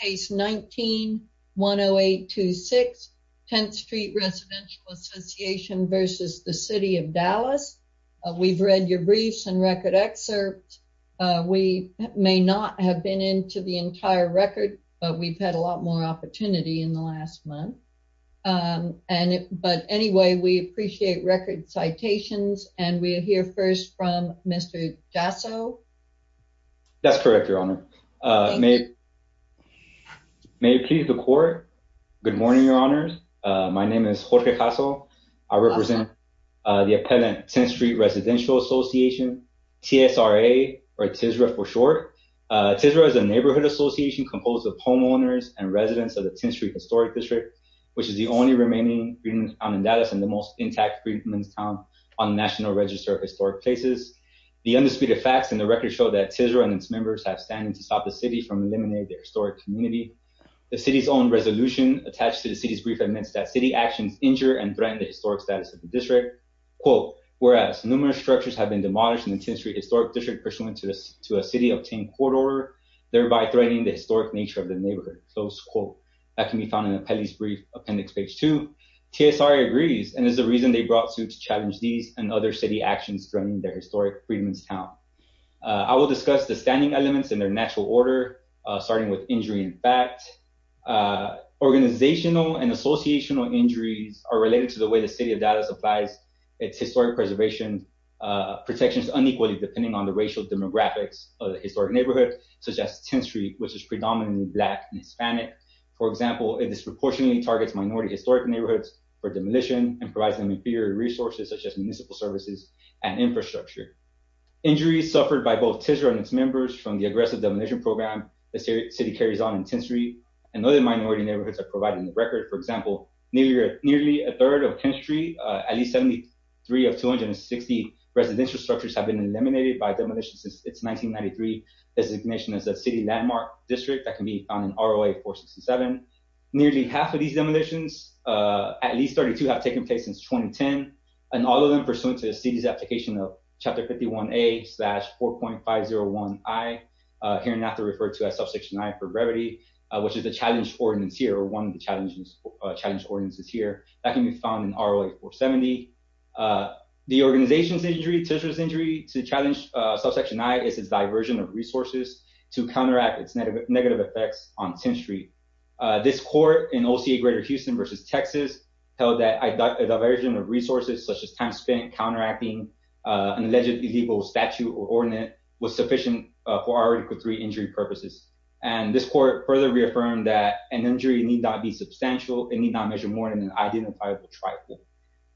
case 19-10826, Tenth Street Residential Association v. City of Dallas. We've read your briefs and record excerpts. We may not have been into the entire record, but we've had a lot more opportunity in the last month. But anyway, we appreciate record citations, and we'll hear first from Mr. Jasso. That's correct, Your Honor. May it please the court. Good morning, Your Honors. My name is Jorge Jasso. I represent the appellant Tenth Street Residential Association, TSRA, or TSRA for short. TSRA is a neighborhood association composed of homeowners and residents of the Tenth Street Historic District, which is the only remaining freedman's town in Dallas and the most intact freedman's town on the National Register of Historic Places. The undisputed facts in the record show that TSRA and its members have standing to stop the city from eliminating the historic community. The city's own resolution attached to the city's brief admits that city actions injure and threaten the historic status of the district, quote, whereas numerous structures have been demolished in the Tenth Street Historic District pursuant to a city-obtained court order, thereby threatening the historic nature of the neighborhood, close quote. That can be found in the appellee's brief, appendix page two. TSRA agrees and is the reason they brought suit to challenge these and other city actions threatening their historic freedman's town. I will discuss the standing elements in their natural order, starting with injury and fact. Organizational and associational injuries are related to the way the city of Dallas applies its historic preservation protections unequally depending on the racial demographics of the historic neighborhood, such as Tenth Street, which is predominantly black and Hispanic. For example, it disproportionately targets minority historic neighborhoods for demolition and provides them with fewer resources such as municipal services and infrastructure. Injuries suffered by both TSRA and its members from the aggressive demolition program the city carries on in Tenth Street and other minority neighborhoods are provided in the record. For example, nearly a third of Tenth Street, at least 73 of 260 residential structures have been eliminated by demolition since it's a landmark district that can be found in ROA 467. Nearly half of these demolitions, at least 32 have taken place since 2010 and all of them pursuant to the city's application of chapter 51A slash 4.501I, here not to refer to as subsection I for brevity, which is the challenge ordinance here or one of the challenge ordinances here that can be found in ROA 470. The organization's injury, TSRA's injury to challenge subsection I is its diversion of resources to counteract its negative effects on Tenth Street. This court in OCA Greater Houston versus Texas held that a diversion of resources such as time spent counteracting an allegedly illegal statute or ordinance was sufficient for Article III injury purposes. And this court further reaffirmed that an injury need not be substantial, it need not measure more than an identifiable trifle.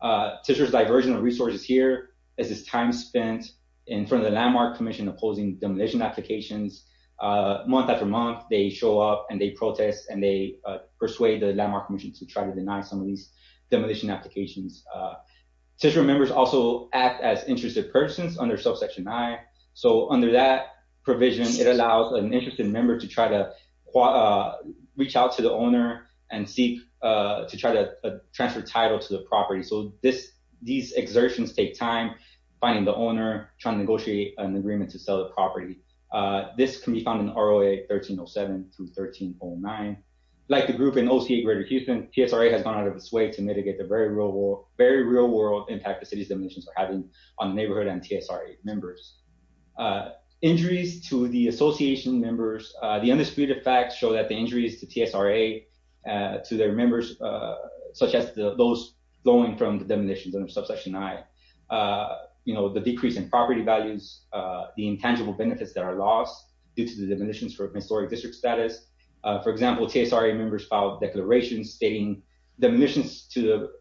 TSRA's diversion of resources here is its time spent in front of the landmark commission opposing demolition applications. Month after month, they show up and they protest and they persuade the landmark commission to try to deny some of these demolition applications. TSRA members also act as interested persons under subsection I. So under that provision, it allows an interested member to try to reach out to the owner and seek to try to transfer title to the property. So these exertions take time, finding the owner, trying to negotiate an agreement to sell the property. This can be found in ROA 1307 through 1309. Like the group in OCA Greater Houston, TSRA has gone out of its way to mitigate the very real world impact the city's demolitions are having on the neighborhood and TSRA members. Injuries to the association members, the undisputed facts show that the injuries to TSRA, to their members, such as those flowing from the demolitions under subsection I, the decrease in property values, the intangible benefits that are lost due to the demolitions for historic district status. For example, TSRA members filed declarations stating demolitions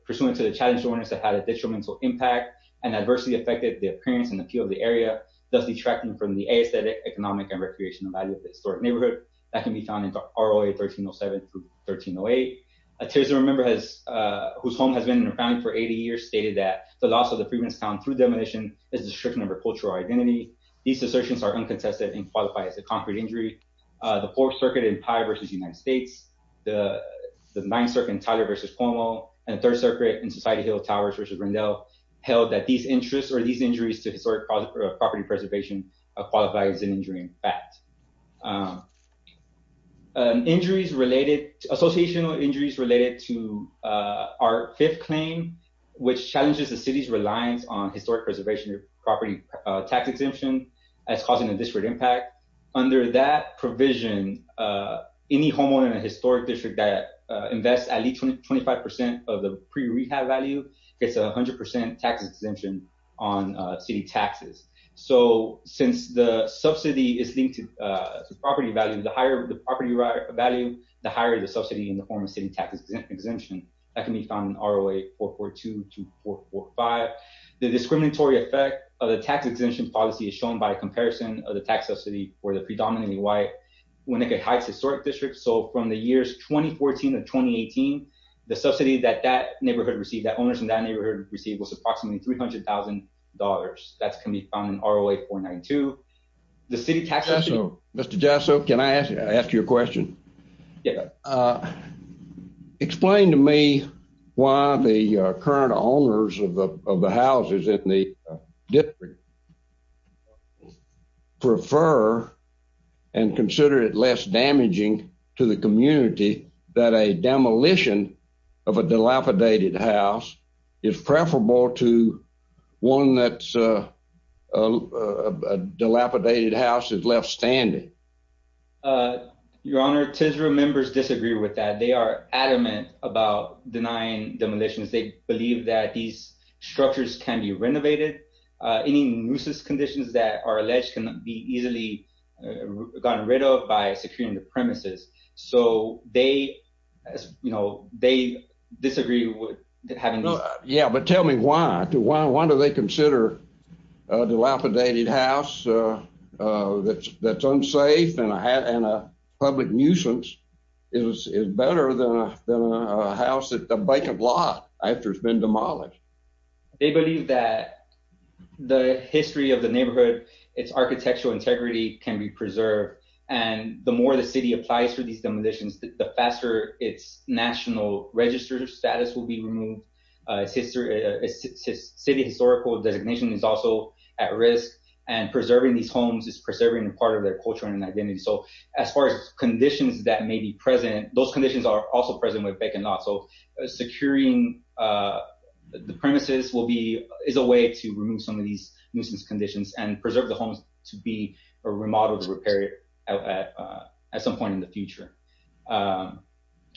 pursuant to the challenge to owners that had a detrimental impact and adversely affected the appearance and appeal of the area, thus detracting from the aesthetic, economic, and recreational value of the historic neighborhood. That can be found in ROA 1307 through 1308. A TSRA member whose home has been in a founding for 80 years stated that the loss of the Freedman's Town through demolition is a destruction of her cultural identity. These assertions are uncontested and qualify as a concrete injury. The Fourth Circuit in Pye v. United States, the Ninth Circuit in Tyler v. Cornwall, and Third Circuit in Society Hill Towers v. Rendell held that these injuries to historic property preservation qualifies as an injury in fact. Injuries related, associational injuries related to our fifth claim, which challenges the city's reliance on historic preservation property tax exemption as causing a disparate impact. Under that provision, any homeowner in a historic district that invests at least 25% of the pre-rehab value gets a 100% tax exemption on city taxes. So since the subsidy is linked to the property value, the higher the property value, the higher the subsidy in the form of city tax exemption. That can be found in ROA 442 to 445. The discriminatory effect of the tax exemption policy is shown by a comparison of the tax subsidy for the predominantly white Winnicott Heights Historic District. So from the years 2014 to 2018, the subsidy that that neighborhood received, that owners in that neighborhood received was approximately $300,000. That's can be found in ROA 492. The city taxes- Mr. Jasso, can I ask you a question? Explain to me why the current owners of the houses in the district prefer and consider it less damaging to the community that a demolition of a dilapidated house is preferable to one that's a dilapidated house that's left standing. Your Honor, TSRA members disagree with that. They are adamant about denying demolitions. They believe that these structures can be renovated. Any nuisance conditions that are alleged can be easily gotten rid of by securing the premises. So they disagree with having- Yeah, but tell me why. Why do they consider a dilapidated house that's unsafe and a public nuisance is better than a house that's a vacant lot after it's been demolished? They believe that the history of the neighborhood, its architectural integrity can be preserved, and the more the city applies for these demolitions, the faster its national register status will be removed. Its city historical designation is also at risk, and preserving these homes is preserving a part of their culture and identity. So as far as conditions that may be will be- is a way to remove some of these nuisance conditions and preserve the homes to be remodeled, repaired at some point in the future.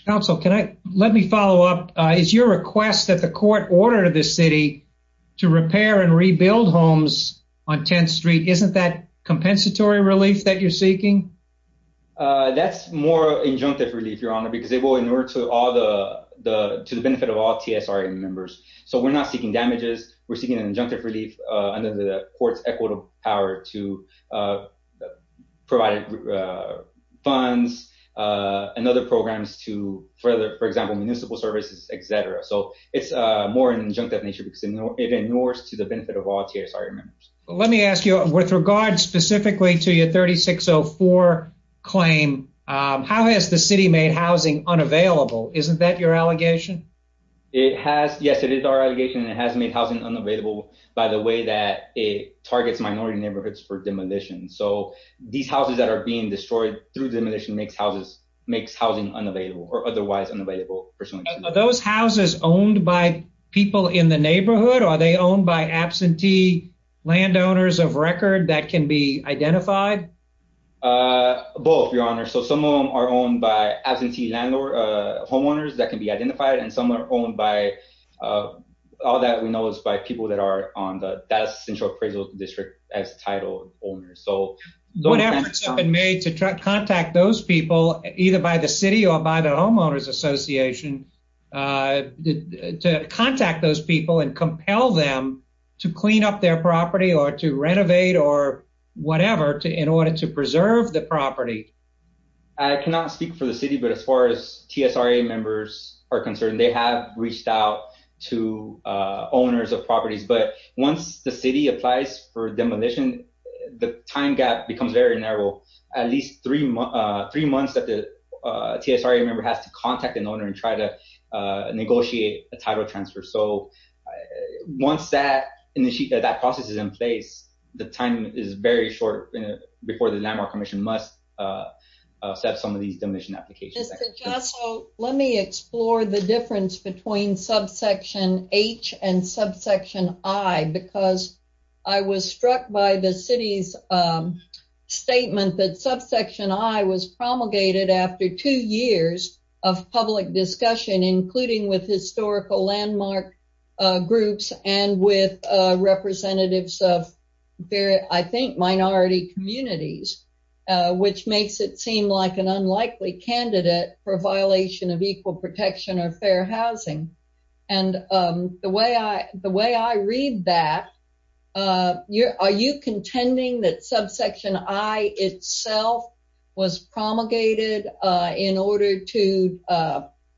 Counsel, can I- let me follow up. Is your request that the court order the city to repair and rebuild homes on 10th Street, isn't that compensatory relief that you're seeking? That's more injunctive relief, Your Honor, because it will in order to all the- to the damages. We're seeking an injunctive relief under the court's equitable power to provide funds and other programs to further, for example, municipal services, et cetera. So it's more in an injunctive nature because it ignores to the benefit of all TSRA members. Let me ask you, with regard specifically to your 3604 claim, how has the city made unavailable? Isn't that your allegation? It has- yes, it is our allegation, and it has made housing unavailable by the way that it targets minority neighborhoods for demolition. So these houses that are being destroyed through demolition makes houses- makes housing unavailable or otherwise unavailable. Are those houses owned by people in the neighborhood? Are they owned by absentee landowners of record that can be identified? Both, Your Honor. So some of them are owned by absentee landlord homeowners that can be identified, and some are owned by- all that we know is by people that are on the Dallas Central Appraisal District as title owners. So what efforts have been made to contact those people, either by the city or by the Homeowners Association, to contact those people and compel them to clean up their property or to speak for the city. But as far as TSRA members are concerned, they have reached out to owners of properties. But once the city applies for demolition, the time gap becomes very narrow. At least three months that the TSRA member has to contact an owner and try to negotiate a title transfer. So once that in the sheet that that process is in place, the time is very short before the Landmark Commission must set some of these demolition applications. Mr. Jasso, let me explore the difference between Subsection H and Subsection I because I was struck by the city's statement that Subsection I was promulgated after two years of public discussion, including with historical landmark groups and with representatives of I think minority communities, which makes it seem like an unlikely candidate for violation of equal protection or fair housing. And the way I read that, are you contending that Subsection I itself was promulgated in order to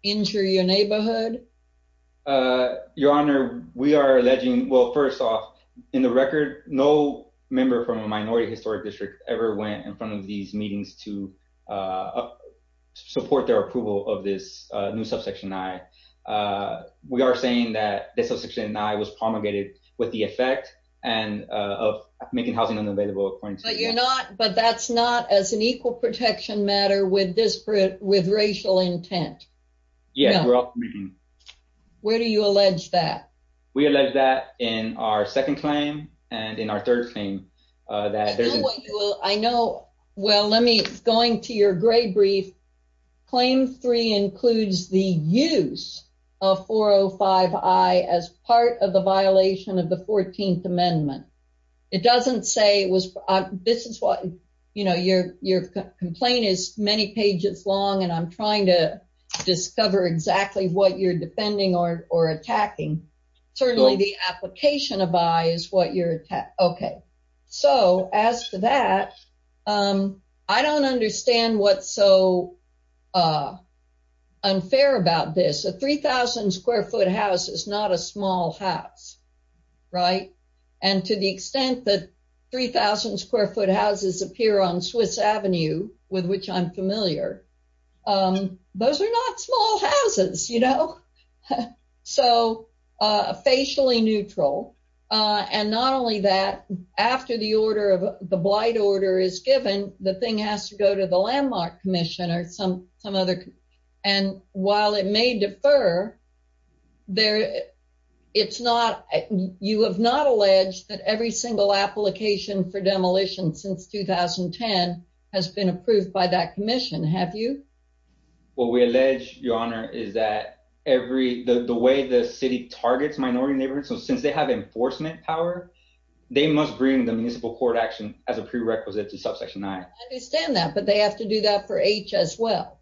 injure your neighborhood? Your Honor, we are alleging, well, first off, in the record, no member from a minority historic district ever went in front of these meetings to support their approval of this new Subsection I. We are saying that this Subsection I was promulgated with the effect of making housing unavailable. But you're not, but that's not as an equal protection matter with racial intent. Yeah. Where do you allege that? We allege that in our second claim and in our third claim. I know, well, let me, going to your gray brief, Claim 3 includes the use of 405I as part of the violation of the 14th Amendment. It doesn't say it was, this is what, you know, your complaint is many pages long and I'm trying to discover exactly what you're defending or attacking. Certainly the application of I is what you're, okay. So as to that, I don't understand what's so unfair about this. A 3,000 square foot house is not a small house, right? And to the extent that 3,000 square foot houses appear on Swiss Avenue, with which I'm familiar, those are not small houses, you know? So facially neutral. And not only that, after the order of the blight order is given, the thing has to go to the Landmark Commission or some other, and while it may defer, it's not, you have not for demolition since 2010 has been approved by that commission, have you? What we allege, your honor, is that every, the way the city targets minority neighborhoods, so since they have enforcement power, they must bring the municipal court action as a prerequisite to subsection I. I understand that, but they have to do that for H as well.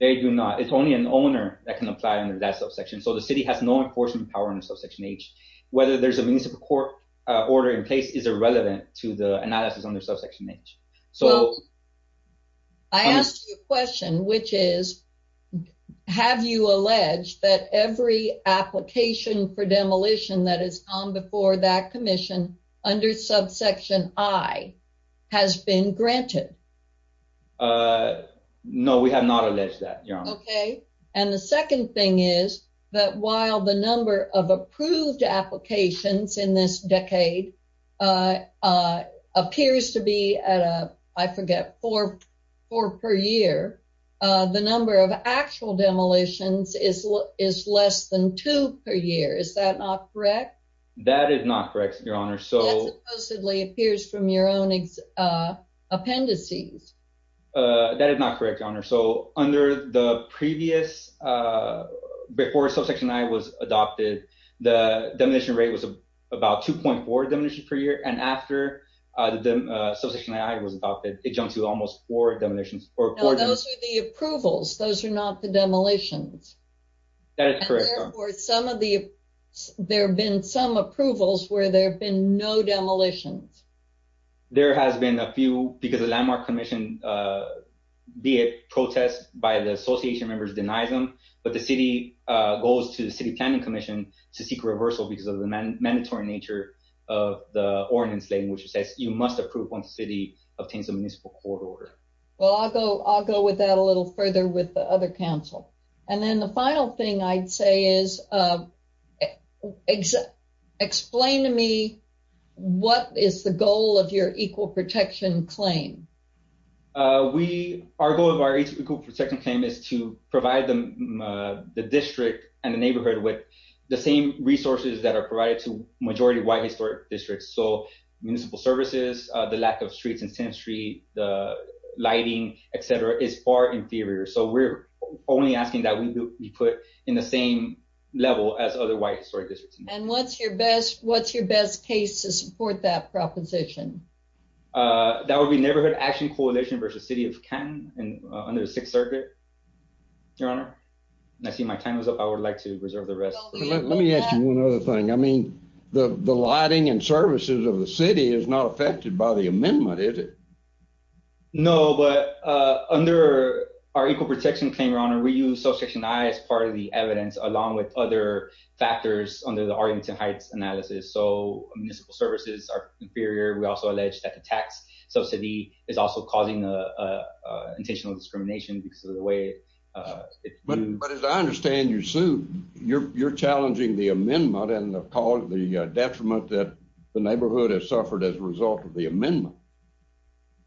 They do not. It's only an owner that can apply under that subsection. So the city has no enforcement power under subsection H. Whether there's a municipal court order in place is irrelevant to the analysis under subsection H. I asked you a question, which is, have you alleged that every application for demolition that has come before that commission under subsection I has been granted? No, we have not alleged that, your honor. Okay. And the second thing is that while the number of approved applications in this decade appears to be at a, I forget, four per year, the number of actual demolitions is less than two per year. Is that not correct? That is not correct, your honor. That supposedly appears from your own appendices. That is not correct, your honor. So under the previous, before subsection I was adopted, the demolition rate was about 2.4 demolitions per year. And after the subsection I was adopted, it jumped to almost four demolitions. Now, those are the approvals. Those are not the demolitions. That is correct, your honor. Or some of the, there have been some approvals where there have been no demolitions. There has been a few because the landmark commission, be it protest by the association members, denies them. But the city goes to the city planning commission to seek reversal because of the mandatory nature of the ordinance language that says you must approve once the city obtains a municipal court order. Well, I'll go with that a little further with the other council. And then the final thing I'd say is, explain to me what is the goal of your equal protection claim? Our goal of our equal protection claim is to provide the district and the neighborhood with the same resources that are provided to majority white historic districts. So municipal services, the lack of streets and 10th street, the lighting, et cetera, is far inferior. So we're only asking that we put in the same level as other white historic districts. And what's your best case to support that proposition? That would be neighborhood action coalition versus city of Canton under the sixth circuit, your honor. And I see my time is up. I would like to reserve the rest. Let me ask you one other thing. I mean, the lighting and services of the city is not affected by the amendment, is it? No, but under our equal protection claim, your honor, we use subsection I as part of the evidence along with other factors under the Arlington Heights analysis. So municipal services are inferior. We also allege that the tax subsidy is also causing intentional discrimination because of the way. But as I understand your suit, you're challenging the amendment and the detriment that the neighborhood has suffered as a result of the amendment.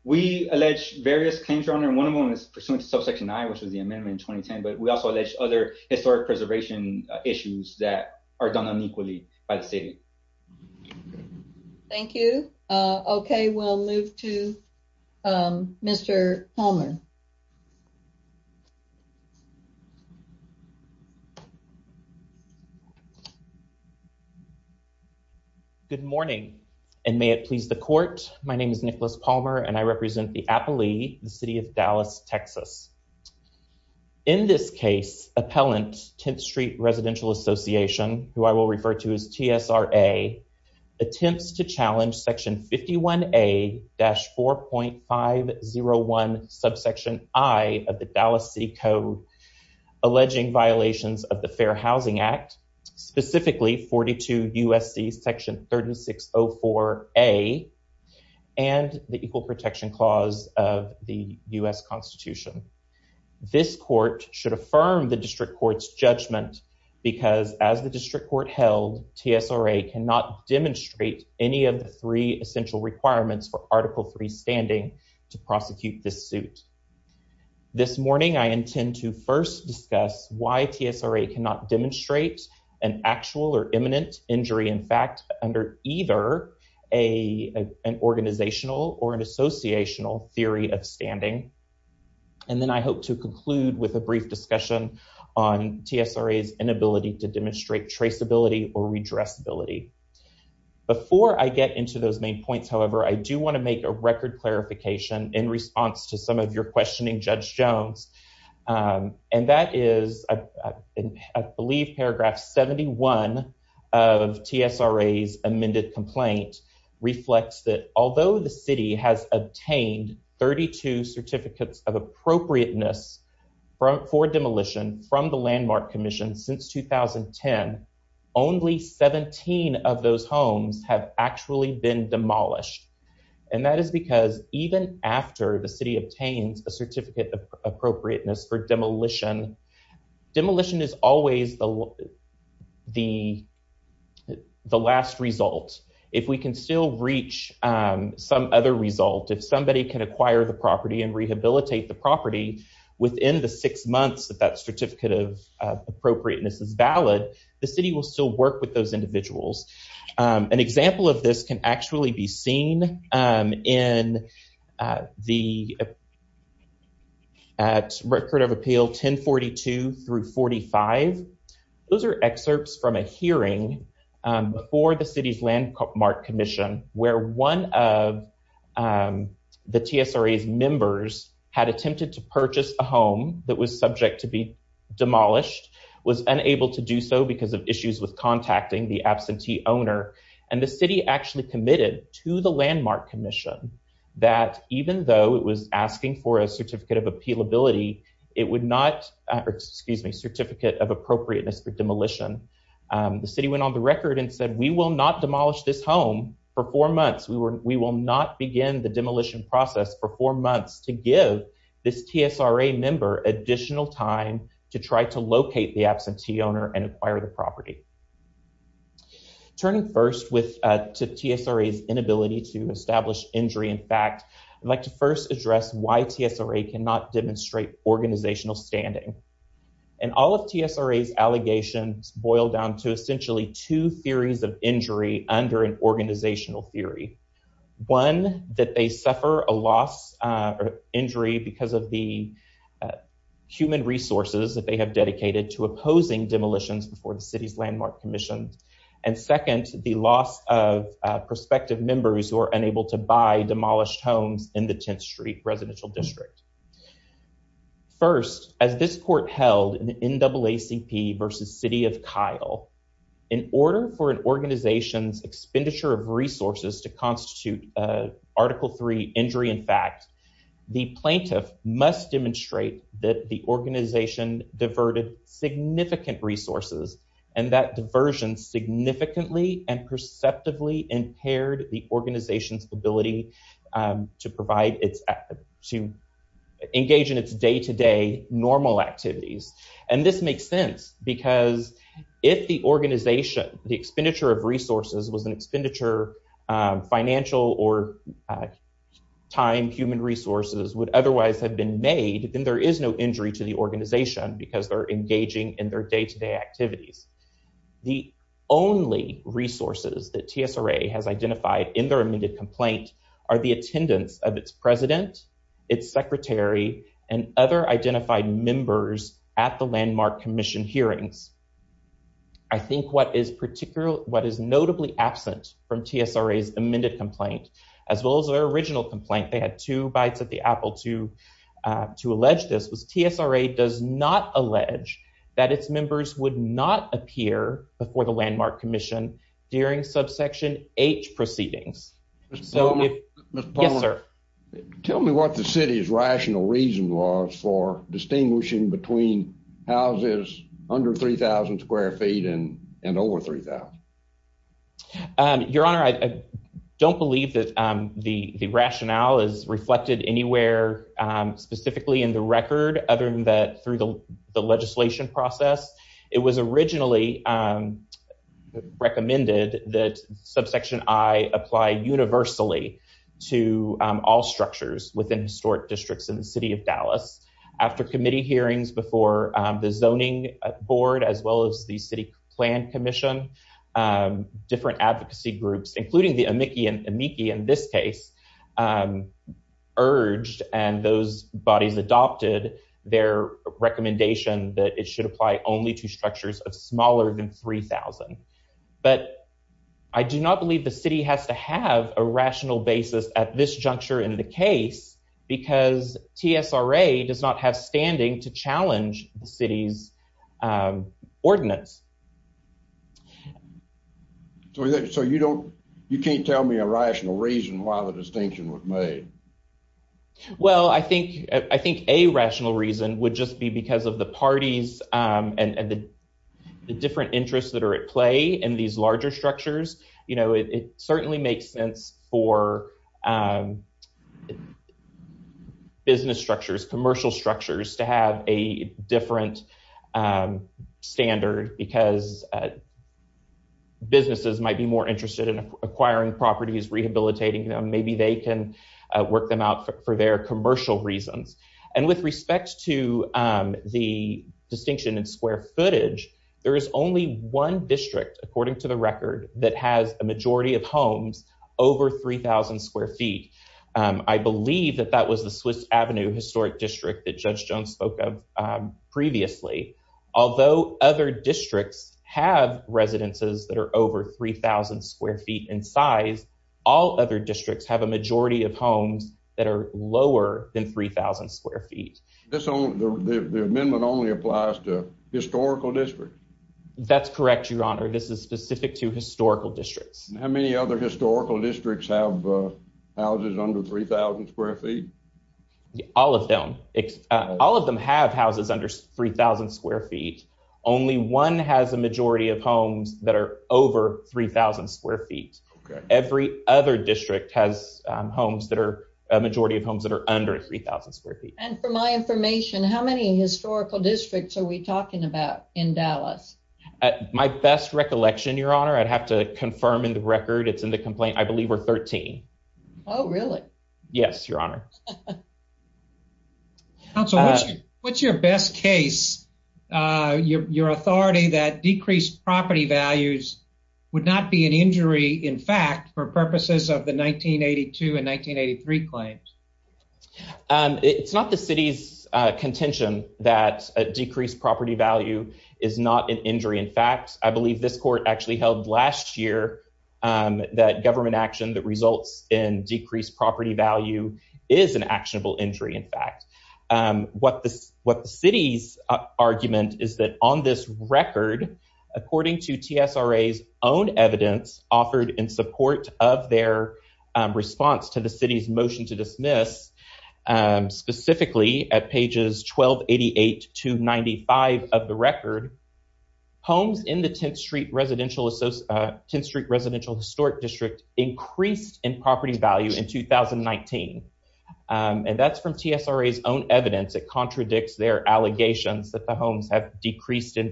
We allege various claims, your honor, and one of them is pursuant to subsection I, which was the amendment in 2010. But we also allege other historic preservation issues that are done unequally by the city. Thank you. Okay, we'll move to Mr. Palmer. Good morning, and may it please the court. My name is Nicholas Palmer and I represent the Appalee, the city of Dallas, Texas. In this case, appellant 10th Street Residential Association, who I will refer to as TSRA, attempts to challenge section 51A-4.501 subsection I of the Dallas City Code, alleging violations of the Fair Housing Act, specifically 42 U.S.C. section 3604A and the Equal Protection Clause of the U.S. Constitution. This court should affirm the district court's judgment because as the district court held, TSRA cannot demonstrate any of the three essential requirements for Article III standing to prosecute this suit. This morning, I intend to first discuss why TSRA cannot demonstrate an actual or imminent injury in fact under either an organizational or an associational theory of standing. And then I hope to conclude with a brief discussion on TSRA's inability to demonstrate traceability or redressability. Before I get into those main points, however, I do want to make a record clarification in response to some of your questions. Paragraph 71 of TSRA's amended complaint reflects that although the city has obtained 32 certificates of appropriateness for demolition from the Landmark Commission since 2010, only 17 of those homes have actually been demolished. And that is because even after the the the last result, if we can still reach some other result, if somebody can acquire the property and rehabilitate the property within the six months that that certificate of appropriateness is valid, the city will still work with those individuals. An example of this can actually be seen in the at Record of Appeal 1042 through 45. Those are excerpts from a hearing before the city's Landmark Commission where one of the TSRA's members had attempted to purchase a home that was subject to be demolished, was unable to do so because of issues with contacting the absentee owner, and the city actually committed to the Landmark Commission that even though it was asking for a certificate of appealability, it would not, excuse me, certificate of appropriateness for demolition. The city went on the record and said, we will not demolish this home for four months. We will not begin the demolition process for four months to give this TSRA member additional time to try to locate the absentee owner and acquire the property. Turning first to TSRA's inability to establish injury in fact, I'd like to first address why TSRA cannot demonstrate organizational standing. And all of TSRA's allegations boil down to essentially two theories of injury under an organizational theory. One, that they suffer a loss or injury because of the human resources that they have dedicated to opposing demolitions before the city's Landmark Commission. And second, the loss of prospective members who are unable to buy demolished homes in the 10th Street residential district. First, as this court held in the NAACP versus City of Kyle, in order for an organization's expenditure of resources to constitute Article III injury in fact, the plaintiff must demonstrate that the organization diverted significant resources and that diversion significantly and perceptively impaired the organization's ability to engage in its day-to-day normal activities. And this makes sense because if the organization, the expenditure of resources was an expenditure, financial or time, human resources would otherwise have been made, then there is no injury to the organization because they're engaging in their day-to-day activities. The only resources that TSRA has identified in their amended complaint are the attendance of its president, its secretary and other identified members at the Landmark Commission hearings. I think what is particularly, what is notably absent from TSRA's amended complaint as well as their original complaint, they had two bites at the apple to allege this, was TSRA does not allege that its members would not appear before the Landmark Commission during subsection H proceedings. So if... Mr. Palmer. Yes, sir. Tell me what the city's rational reason was for distinguishing between houses under 3,000 square feet and over 3,000. Your honor, I don't believe that the rationale is reflected anywhere specifically in the record other than that through the legislation process. It was originally recommended that subsection I apply universally to all structures within historic districts in the city of Dallas. After committee hearings before the zoning board as well as the city plan commission, different advocacy groups, including the amici in this case, urged and those bodies adopted their recommendation that it should apply only to structures of smaller than 3,000. But I do not believe the city has to have a rational basis at this juncture in the case because TSRA does not have standing to challenge the city's ordinance. So you can't tell me a rational reason why the distinction was made. Well, I think a rational reason would just be because of the parties and the different interests that are at play in these larger structures. It certainly makes sense for business structures, commercial structures to have a different standard because businesses might be more interested in acquiring properties, rehabilitating them. Maybe they can work them out for their commercial reasons. And with respect to the distinction in square footage, there is only one district, according to the record, that has a majority of homes over 3,000 square feet. I believe that that was the Swiss Avenue Historic District that Judge Jones spoke of previously. Although other districts have residences that are over 3,000 square feet in size, all other districts have a majority of homes that are lower than 3,000 square feet. The amendment only applies to historical districts? That's correct, Your Honor. This is specific to historical districts. How many other historical districts have houses under 3,000 square feet? All of them. All of them have houses under 3,000 square feet. Only one has a majority of homes that are over 3,000 square feet. Every other district has homes that are a majority of homes that are under 3,000 square feet. And for my information, how many historical districts are we talking about in Dallas? My best recollection, Your Honor, I'd have to confirm in the record, it's in the complaint, I believe we're 13. Oh, really? Yes, Your Honor. Counsel, what's your best case? Your authority that decreased property values would not be an injury, in fact, for purposes of the 1982 and 1983 claims? It's not the city's contention that a decreased property value is not an injury. In fact, I believe this court actually held last year that government action that results in decreased property value is an actionable injury, in fact. What the city's argument is that on this record, according to TSRA's own evidence offered in support of their response to the city's motion to dismiss, specifically at pages 1288 to 295 of the record, homes in the 10th Street residential historic district increased in property value in 2019. And that's from TSRA's own evidence that contradicts their allegations that the homes have decreased in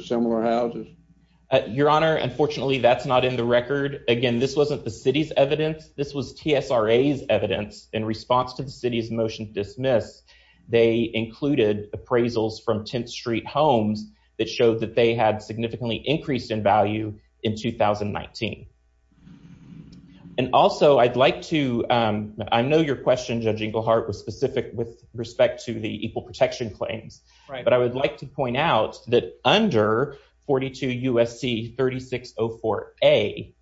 similar houses? Your Honor, unfortunately, that's not in the record. Again, this wasn't the city's evidence. This was TSRA's evidence in response to the city's motion to dismiss. They included appraisals from 10th Street homes that showed that they had significantly increased in value in 2019. And also, I'd like to, I know your question, Judge Inglehart, was specific with respect to equal protection claims. But I would like to point out that under 42 U.S.C. 3604A,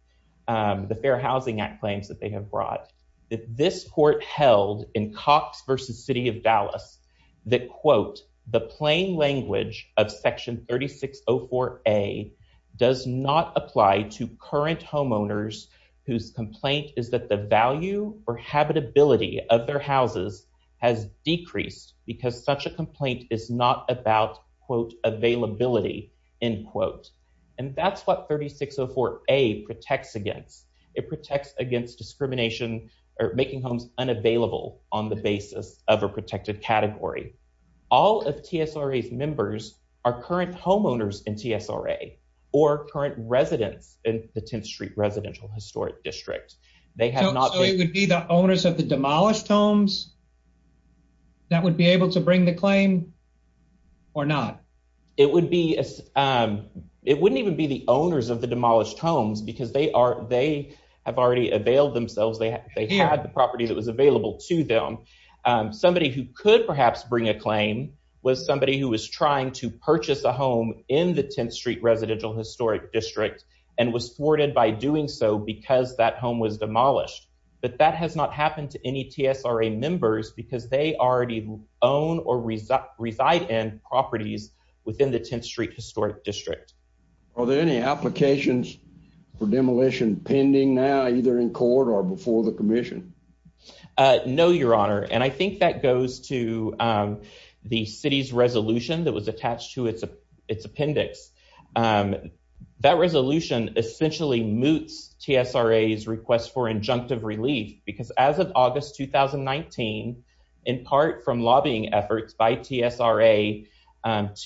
the Fair Housing Act claims that they have brought, that this court held in Cox v. City of Dallas that, quote, the plain language of section 3604A does not apply to current homeowners whose complaint is that the value or habitability of their houses has decreased because such a complaint is not about, quote, availability, end quote. And that's what 3604A protects against. It protects against discrimination or making homes unavailable on the basis of a protected category. All of TSRA's members are current homeowners in TSRA or current residents in the 10th Street Residential Historic District. They have not. So it would be the owners of the demolished homes that would be able to bring the claim or not? It would be, it wouldn't even be the owners of the demolished homes because they are, they have already availed themselves. They had the property that was available to them. Somebody who could perhaps bring a claim was somebody who was trying to purchase a home in the 10th Street Residential Historic District and was thwarted by doing so because that home was demolished. But that has not happened to any TSRA members because they already own or reside in properties within the 10th Street Historic District. Are there any applications for demolition pending now, either in court or before the commission? No, your honor. And I think that goes to the city's resolution that was attached to its appendix. That resolution essentially moots TSRA's request for injunctive relief because as of August 2019, in part from lobbying efforts by TSRA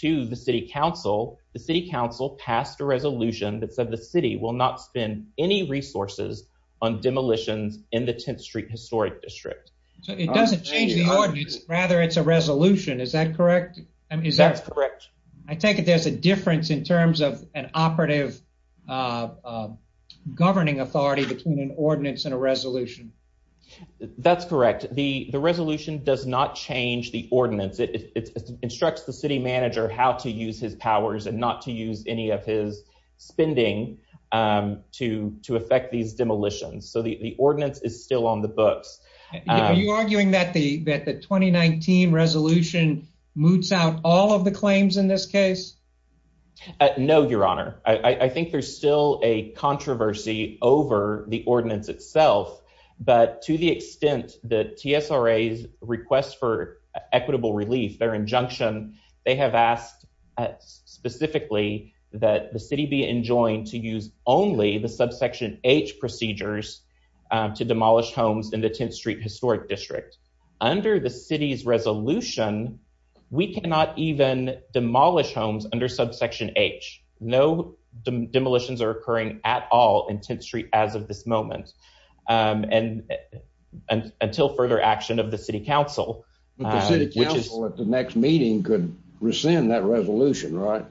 to the city council, the city council passed a resolution that said the city will not spend any resources on demolitions in the 10th Street Historic District. So it doesn't change the ordinance, rather it's a resolution. Is that correct? That's correct. I take it there's a difference in terms of an operative governing authority between an ordinance and a resolution. That's correct. The resolution does not change the ordinance. It instructs the city manager how to use his powers and not to use any of his spending to affect these demolitions. So the 2019 resolution moots out all of the claims in this case? No, your honor. I think there's still a controversy over the ordinance itself, but to the extent that TSRA's request for equitable relief, their injunction, they have asked specifically that the city be enjoined to use only the subsection H procedures to demolish homes in the 10th Street Historic District. Under the city's resolution, we cannot even demolish homes under subsection H. No demolitions are occurring at all in 10th Street as of this moment, until further action of the city council. The city council at the next meeting could rescind that resolution, right?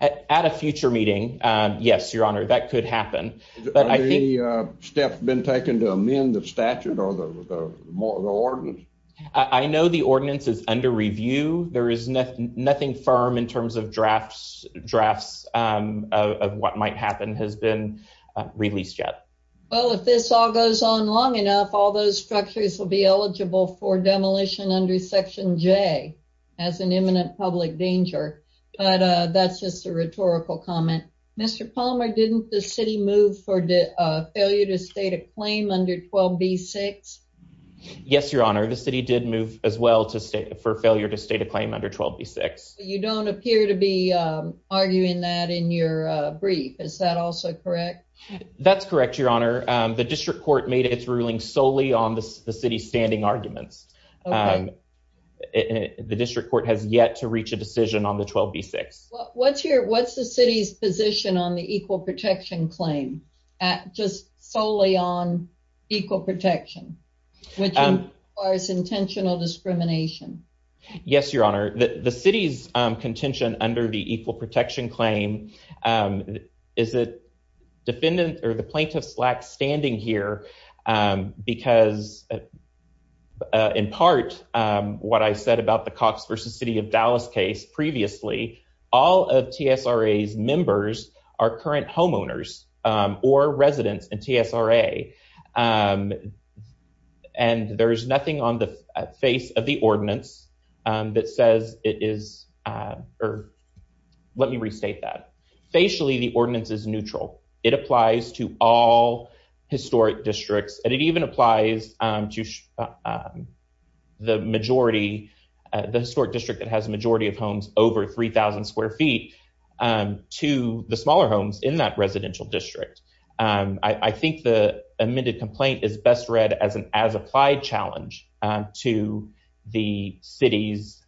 At a future meeting, yes, your honor, that could happen. Have the steps been taken to amend the statute or the ordinance? I know the ordinance is under review. There is nothing firm in terms of drafts of what might happen has been released yet. Well, if this all goes on long enough, all those structures will be eligible for demolition under section J as an imminent public danger, but that's just a rhetorical comment. Mr. Palmer, didn't the city move for the failure to state a claim under 12b-6? Yes, your honor, the city did move as well for failure to state a claim under 12b-6. You don't appear to be arguing that in your brief. Is that also correct? That's correct, your honor. The district court made its ruling solely on the city's standing arguments. The district court has yet to reach a decision on the 12b-6. What's the city's position on the equal protection claim, just solely on equal protection, which requires intentional discrimination? Yes, your honor, the city's contention under the equal protection claim, is it defendant or the plaintiff's lack standing here because, in part, what I said about the Cox v. City of Dallas case previously, all of TSRA's members are current homeowners or residents in TSRA, and there's nothing on the face of the ordinance that says it is, or let me restate that. Facially, the ordinance is neutral. It applies to all historic districts, and it even applies to the historic district that has a majority of homes over 3,000 square feet to the smaller homes in that residential district. I think the amended complaint is best read as an as-applied challenge to the city's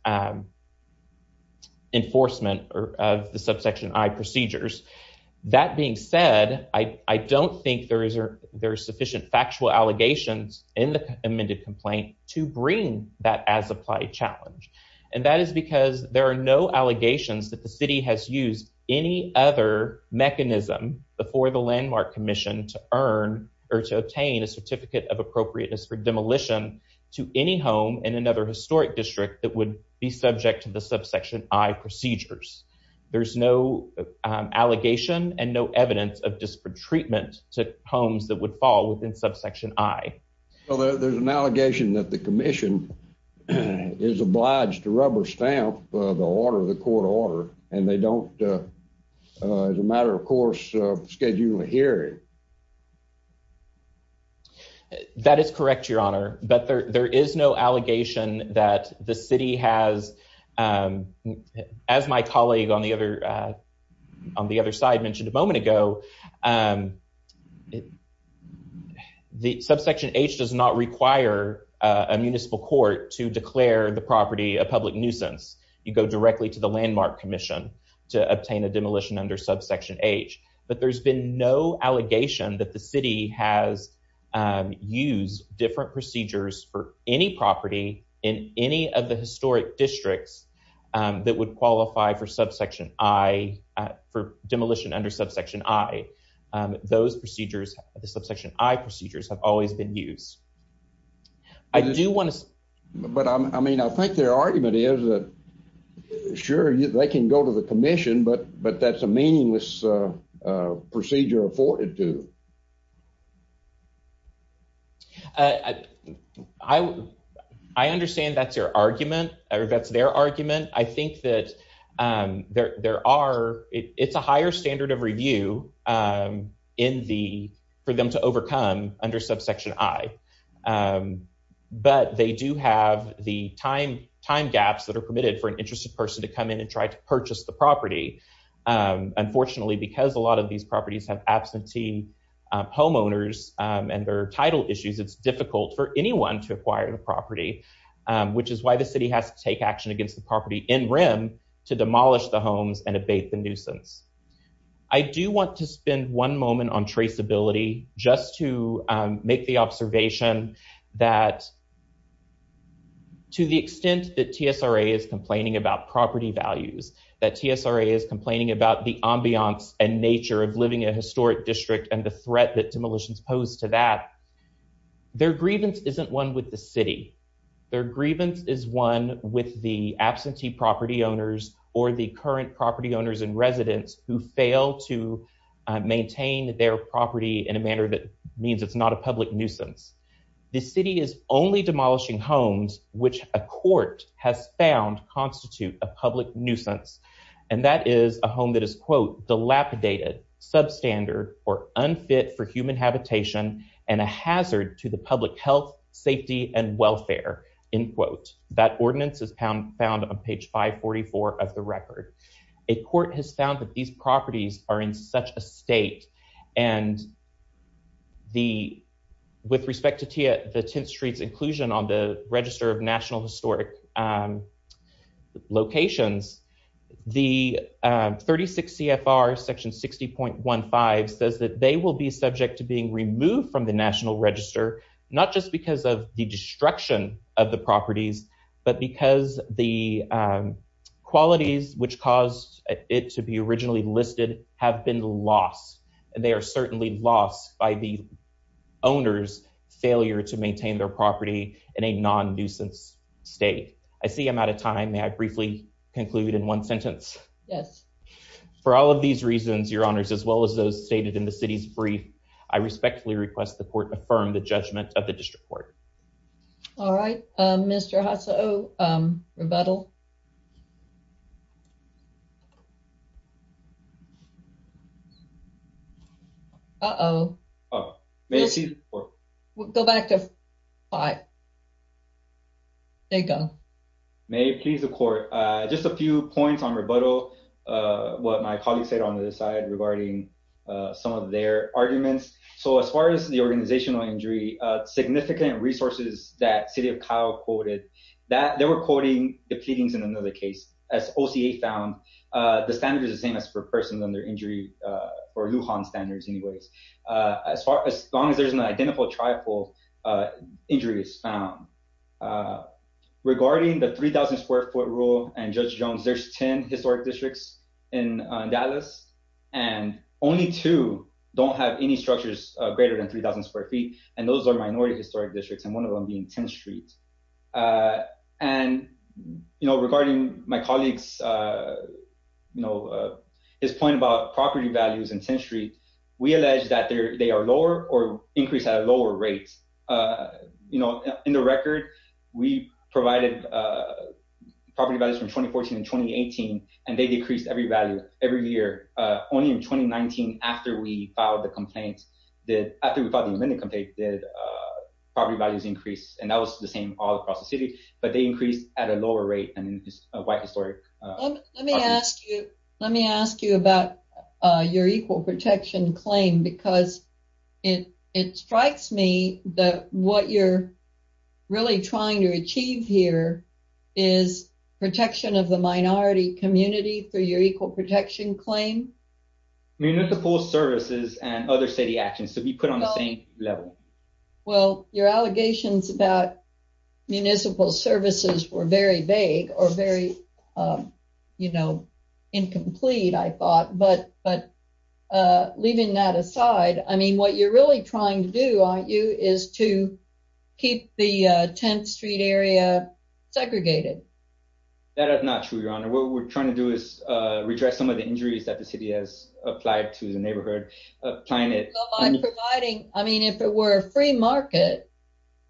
enforcement of the subsection I procedures. That being said, I don't think there are sufficient factual allegations in the amended complaint to bring that as-applied challenge, and that is because there are no allegations that the city has used any other mechanism before the landmark commission to earn or to obtain a certificate of appropriateness for demolition to any home in another historic district that would be subject to the subsection I procedures. There's no allegation and no evidence of disparate treatment to homes that would fall within subsection I. Well, there's an allegation that the commission is obliged to rubber stamp the order, the court order, and they don't, as a matter of course, schedule a hearing. That is correct, your honor, but there is no allegation that the city has, as my colleague on the other side mentioned a moment ago, the subsection H does not require a municipal court to declare the property a public nuisance. You go directly to the landmark commission to obtain a demolition under subsection H, but there's been no allegation that the city has used different procedures for any property in any of the historic districts that would qualify for subsection I, for demolition under subsection I. Those procedures, the subsection I procedures, have always been used. I do want to- But, I mean, I think their argument is that, sure, they can go to the commission, but that's meaningless procedure afforded to them. I understand that's your argument, or that's their argument. I think that there are, it's a higher standard of review for them to overcome under subsection I, but they do have the time gaps that are permitted for an interested person to come in and try to purchase the property. Unfortunately, because a lot of these properties have absentee homeowners and their title issues, it's difficult for anyone to acquire the property, which is why the city has to take action against the property in REM to demolish the homes and abate the nuisance. I do want to spend one moment on traceability just to make the observation that to the extent that TSRA is complaining about property values, that TSRA is complaining about the ambiance and nature of living in a historic district and the threat that demolitions pose to that, their grievance isn't one with the city. Their grievance is one with the absentee property owners or the current property owners and residents who fail to maintain their property in a manner that means it's not a public nuisance. The city is only demolishing homes which a court has found constitute a public nuisance, and that is a home that is, quote, dilapidated, substandard, or unfit for human habitation, and a hazard to the public health, safety, and welfare, end quote. That ordinance is found on page 544 of the record. A court has found that these properties are in the, with respect to the 10th Street's inclusion on the Register of National Historic Locations, the 36 CFR section 60.15 says that they will be subject to being removed from the National Register, not just because of the destruction of the properties, but because the qualities which caused it to be originally listed have been lost, and they are certainly lost by the owner's failure to maintain their property in a non-nuisance state. I see I'm out of time. May I briefly conclude in one sentence? Yes. For all of these reasons, your honors, as well as those stated in the city's brief, I respectfully request the court affirm the judgment of the May I please the court? Go back to 5. There you go. May I please the court? Just a few points on rebuttal, what my colleagues said on the other side regarding some of their arguments. So as far as the organizational injury, significant resources that City of Kyle quoted, that they were quoting the pleadings in another case. As OCA found, the standard is the same as per person under injury or Lujan standards anyways. As far as long as there's an identical trifle, injury is found. Regarding the 3,000 square foot rule and Judge Jones, there's 10 historic districts in Dallas, and only two don't have any structures greater than 3,000 square feet, and those are minority historic districts, and one of them being 10th Street. And, you know, regarding my colleagues, you know, his point about property values in 10th Street, we allege that they are lower or increased at a lower rate. You know, in the record, we provided property values from 2014 and 2018, and they decreased every value every year. Only in 2019, after we filed the complaint, after we filed the amended complaint, did property values increase, and that was the same all across the city, but they increased at a lower rate than a white historic. Let me ask you about your equal protection claim, because it strikes me that what you're really trying to achieve here is protection of the minority community through your equal protection claim. Municipal services and other city actions to be put on the same level. Well, your allegations about municipal services were very vague or very, you know, incomplete, I thought, but leaving that aside, I mean, what you're really trying to do, aren't you, is to keep the 10th Street area segregated. That is not true, Your Honor. What we're trying to do is redress some of the injuries that the city has applied to the neighborhood, trying to- I'm providing, I mean, if it were a free market,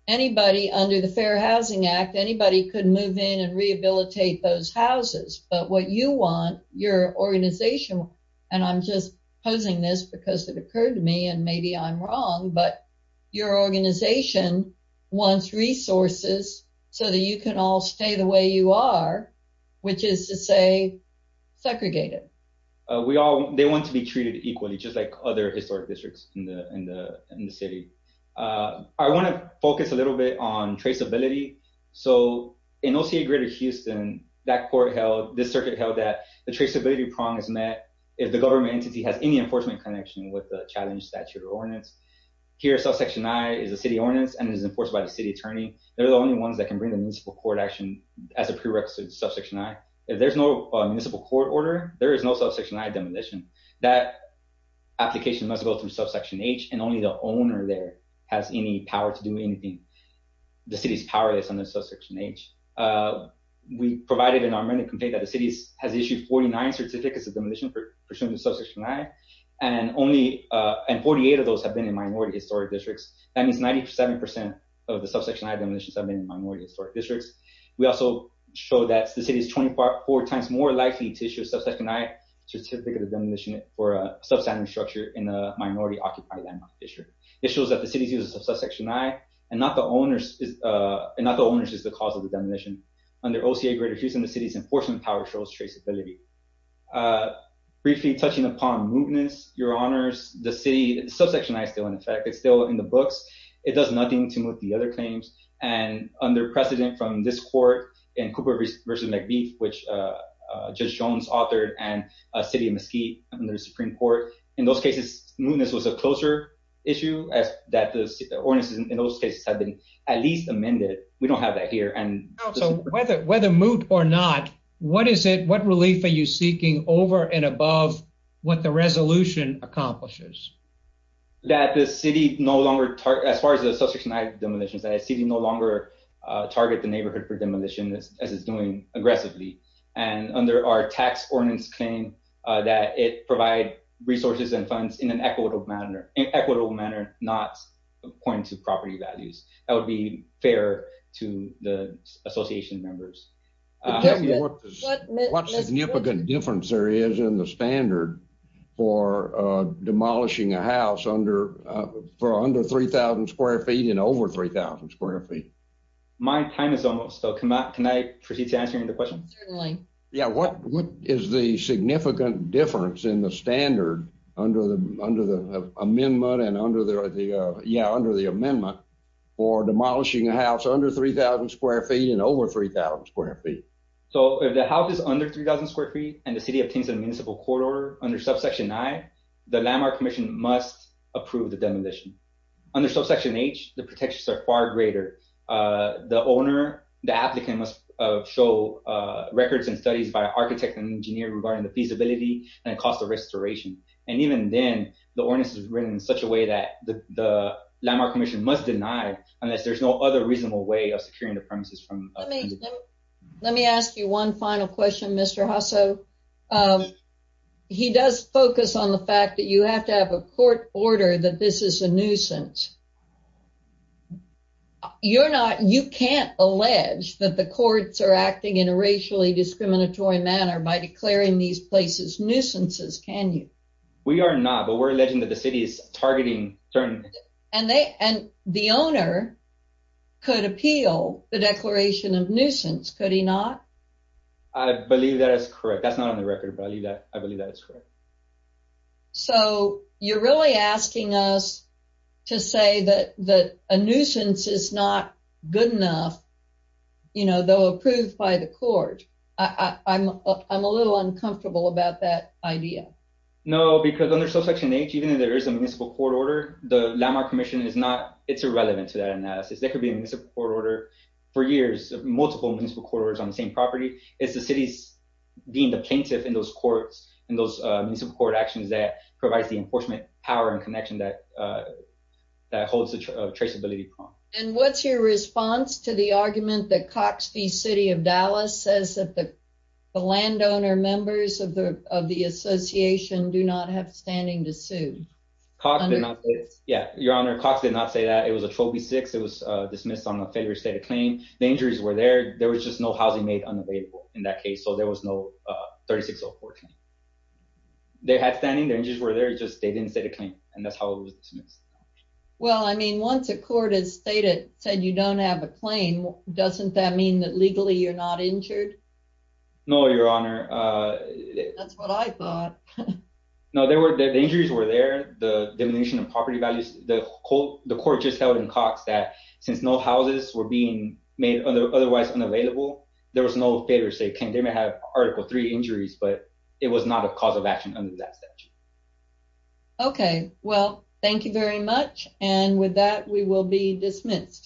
anybody under the Fair Housing Act, anybody could move in and rehabilitate those houses, but what you want, your organization, and I'm just posing this because it occurred to me, and maybe I'm wrong, but your organization wants resources so that you can all stay the way you are, which is to say segregated. They want to be treated equally, just like other historic districts in the city. I want to focus a little bit on traceability. So in OCA Greater Houston, that court held, this circuit held that the traceability prong is met if the government entity has any enforcement connection with the challenged statute or ordinance. Here, subsection I is a city ordinance and is enforced by the city attorney. They're the only ones that can bring the municipal court action as a prerequisite to subsection I. If there's no municipal court order, there is no subsection I demolition. That application must go through subsection H, and only the owner there has any power to do anything. The city is powerless under subsection H. We provided in our written complaint that the city has issued 49 certificates of demolition pursuant to subsection I, and 48 of those have been in minority historic districts. That means 97 percent of the subsection I demolitions have been in minority historic districts. We also show that the city is 24 times more likely to issue a subsection I certificate of demolition for a substandard structure in a minority occupied landmark district. This shows that the city's use of subsection I, and not the owner's, is the cause of the demolition. Under OCA Greater Houston, the city's enforcement power shows traceability. Briefly, touching upon movements, your honors, the city, subsection I is still in effect. It's in the books. It does nothing to move the other claims. Under precedent from this court, in Cooper v. McBeef, which Judge Jones authored, and City of Mesquite under the Supreme Court, in those cases, mootness was a closer issue that the ordinance in those cases had been at least amended. We don't have that here. Whether moot or not, what is it, what relief are you seeking over and above what the resolution accomplishes? That the city no longer, as far as the subsection I demolitions, that the city no longer target the neighborhood for demolition as it's doing aggressively. And under our tax ordinance claim, that it provide resources and funds in an equitable manner, not according to property values. That would be fair to the association members. Tell me what significant difference there is in the standard for demolishing a house for under 3,000 square feet and over 3,000 square feet. My time is almost up. Can I proceed to answering the question? Certainly. Yeah, what is the significant difference in the standard under the amendment for demolishing a house under 3,000 square feet and over 3,000 square feet? So if the house is under 3,000 square feet and the city obtains a municipal court order under subsection I, the landmark commission must approve the demolition. Under subsection H, the protections are far greater. The owner, the applicant must show records and studies by architect and engineer regarding the feasibility and cost of restoration. And even then, the ordinance is written in such a way that the landmark commission must deny unless there's no other reasonable way of securing the premises. Let me ask you one final question, Mr. Jasso. He does focus on the fact that you have to have a court order that this is a nuisance. You're not, you can't allege that the courts are acting in a racially discriminatory manner by declaring these places nuisances, can you? We are not, but we're alleging that the city is nuisance, could he not? I believe that is correct. That's not on the record, but I believe that is correct. So you're really asking us to say that a nuisance is not good enough, you know, though approved by the court. I'm a little uncomfortable about that idea. No, because under subsection H, even if there is a municipal court order, the landmark commission is not, it's irrelevant to that analysis. There could be a municipal court order for years, multiple municipal court orders on the same property. It's the city's being the plaintiff in those courts, in those municipal court actions that provides the enforcement power and connection that holds the traceability prompt. And what's your response to the argument that Cox v. City of Dallas says that the landowner members of the association do not have standing to sue? Cox did not, yeah, your honor, Cox did not say that. It was a 12 v. 6. It was dismissed on a failure to state a claim. The injuries were there, there was just no housing made unavailable in that case, so there was no 36-04 claim. They had standing, the injuries were there, just they didn't state a claim, and that's how it was dismissed. Well, I mean, once a court has stated, said you don't have a claim, doesn't that mean that legally you're not injured? No, your honor. That's what I thought. No, the injuries were there, the diminution of property values, the court just held in Cox that since no houses were being made otherwise unavailable, there was no failure to state a claim. They may have Article III injuries, but it was not a cause of action under that statute. Okay, well, thank you very much, and with that, we will be dismissed.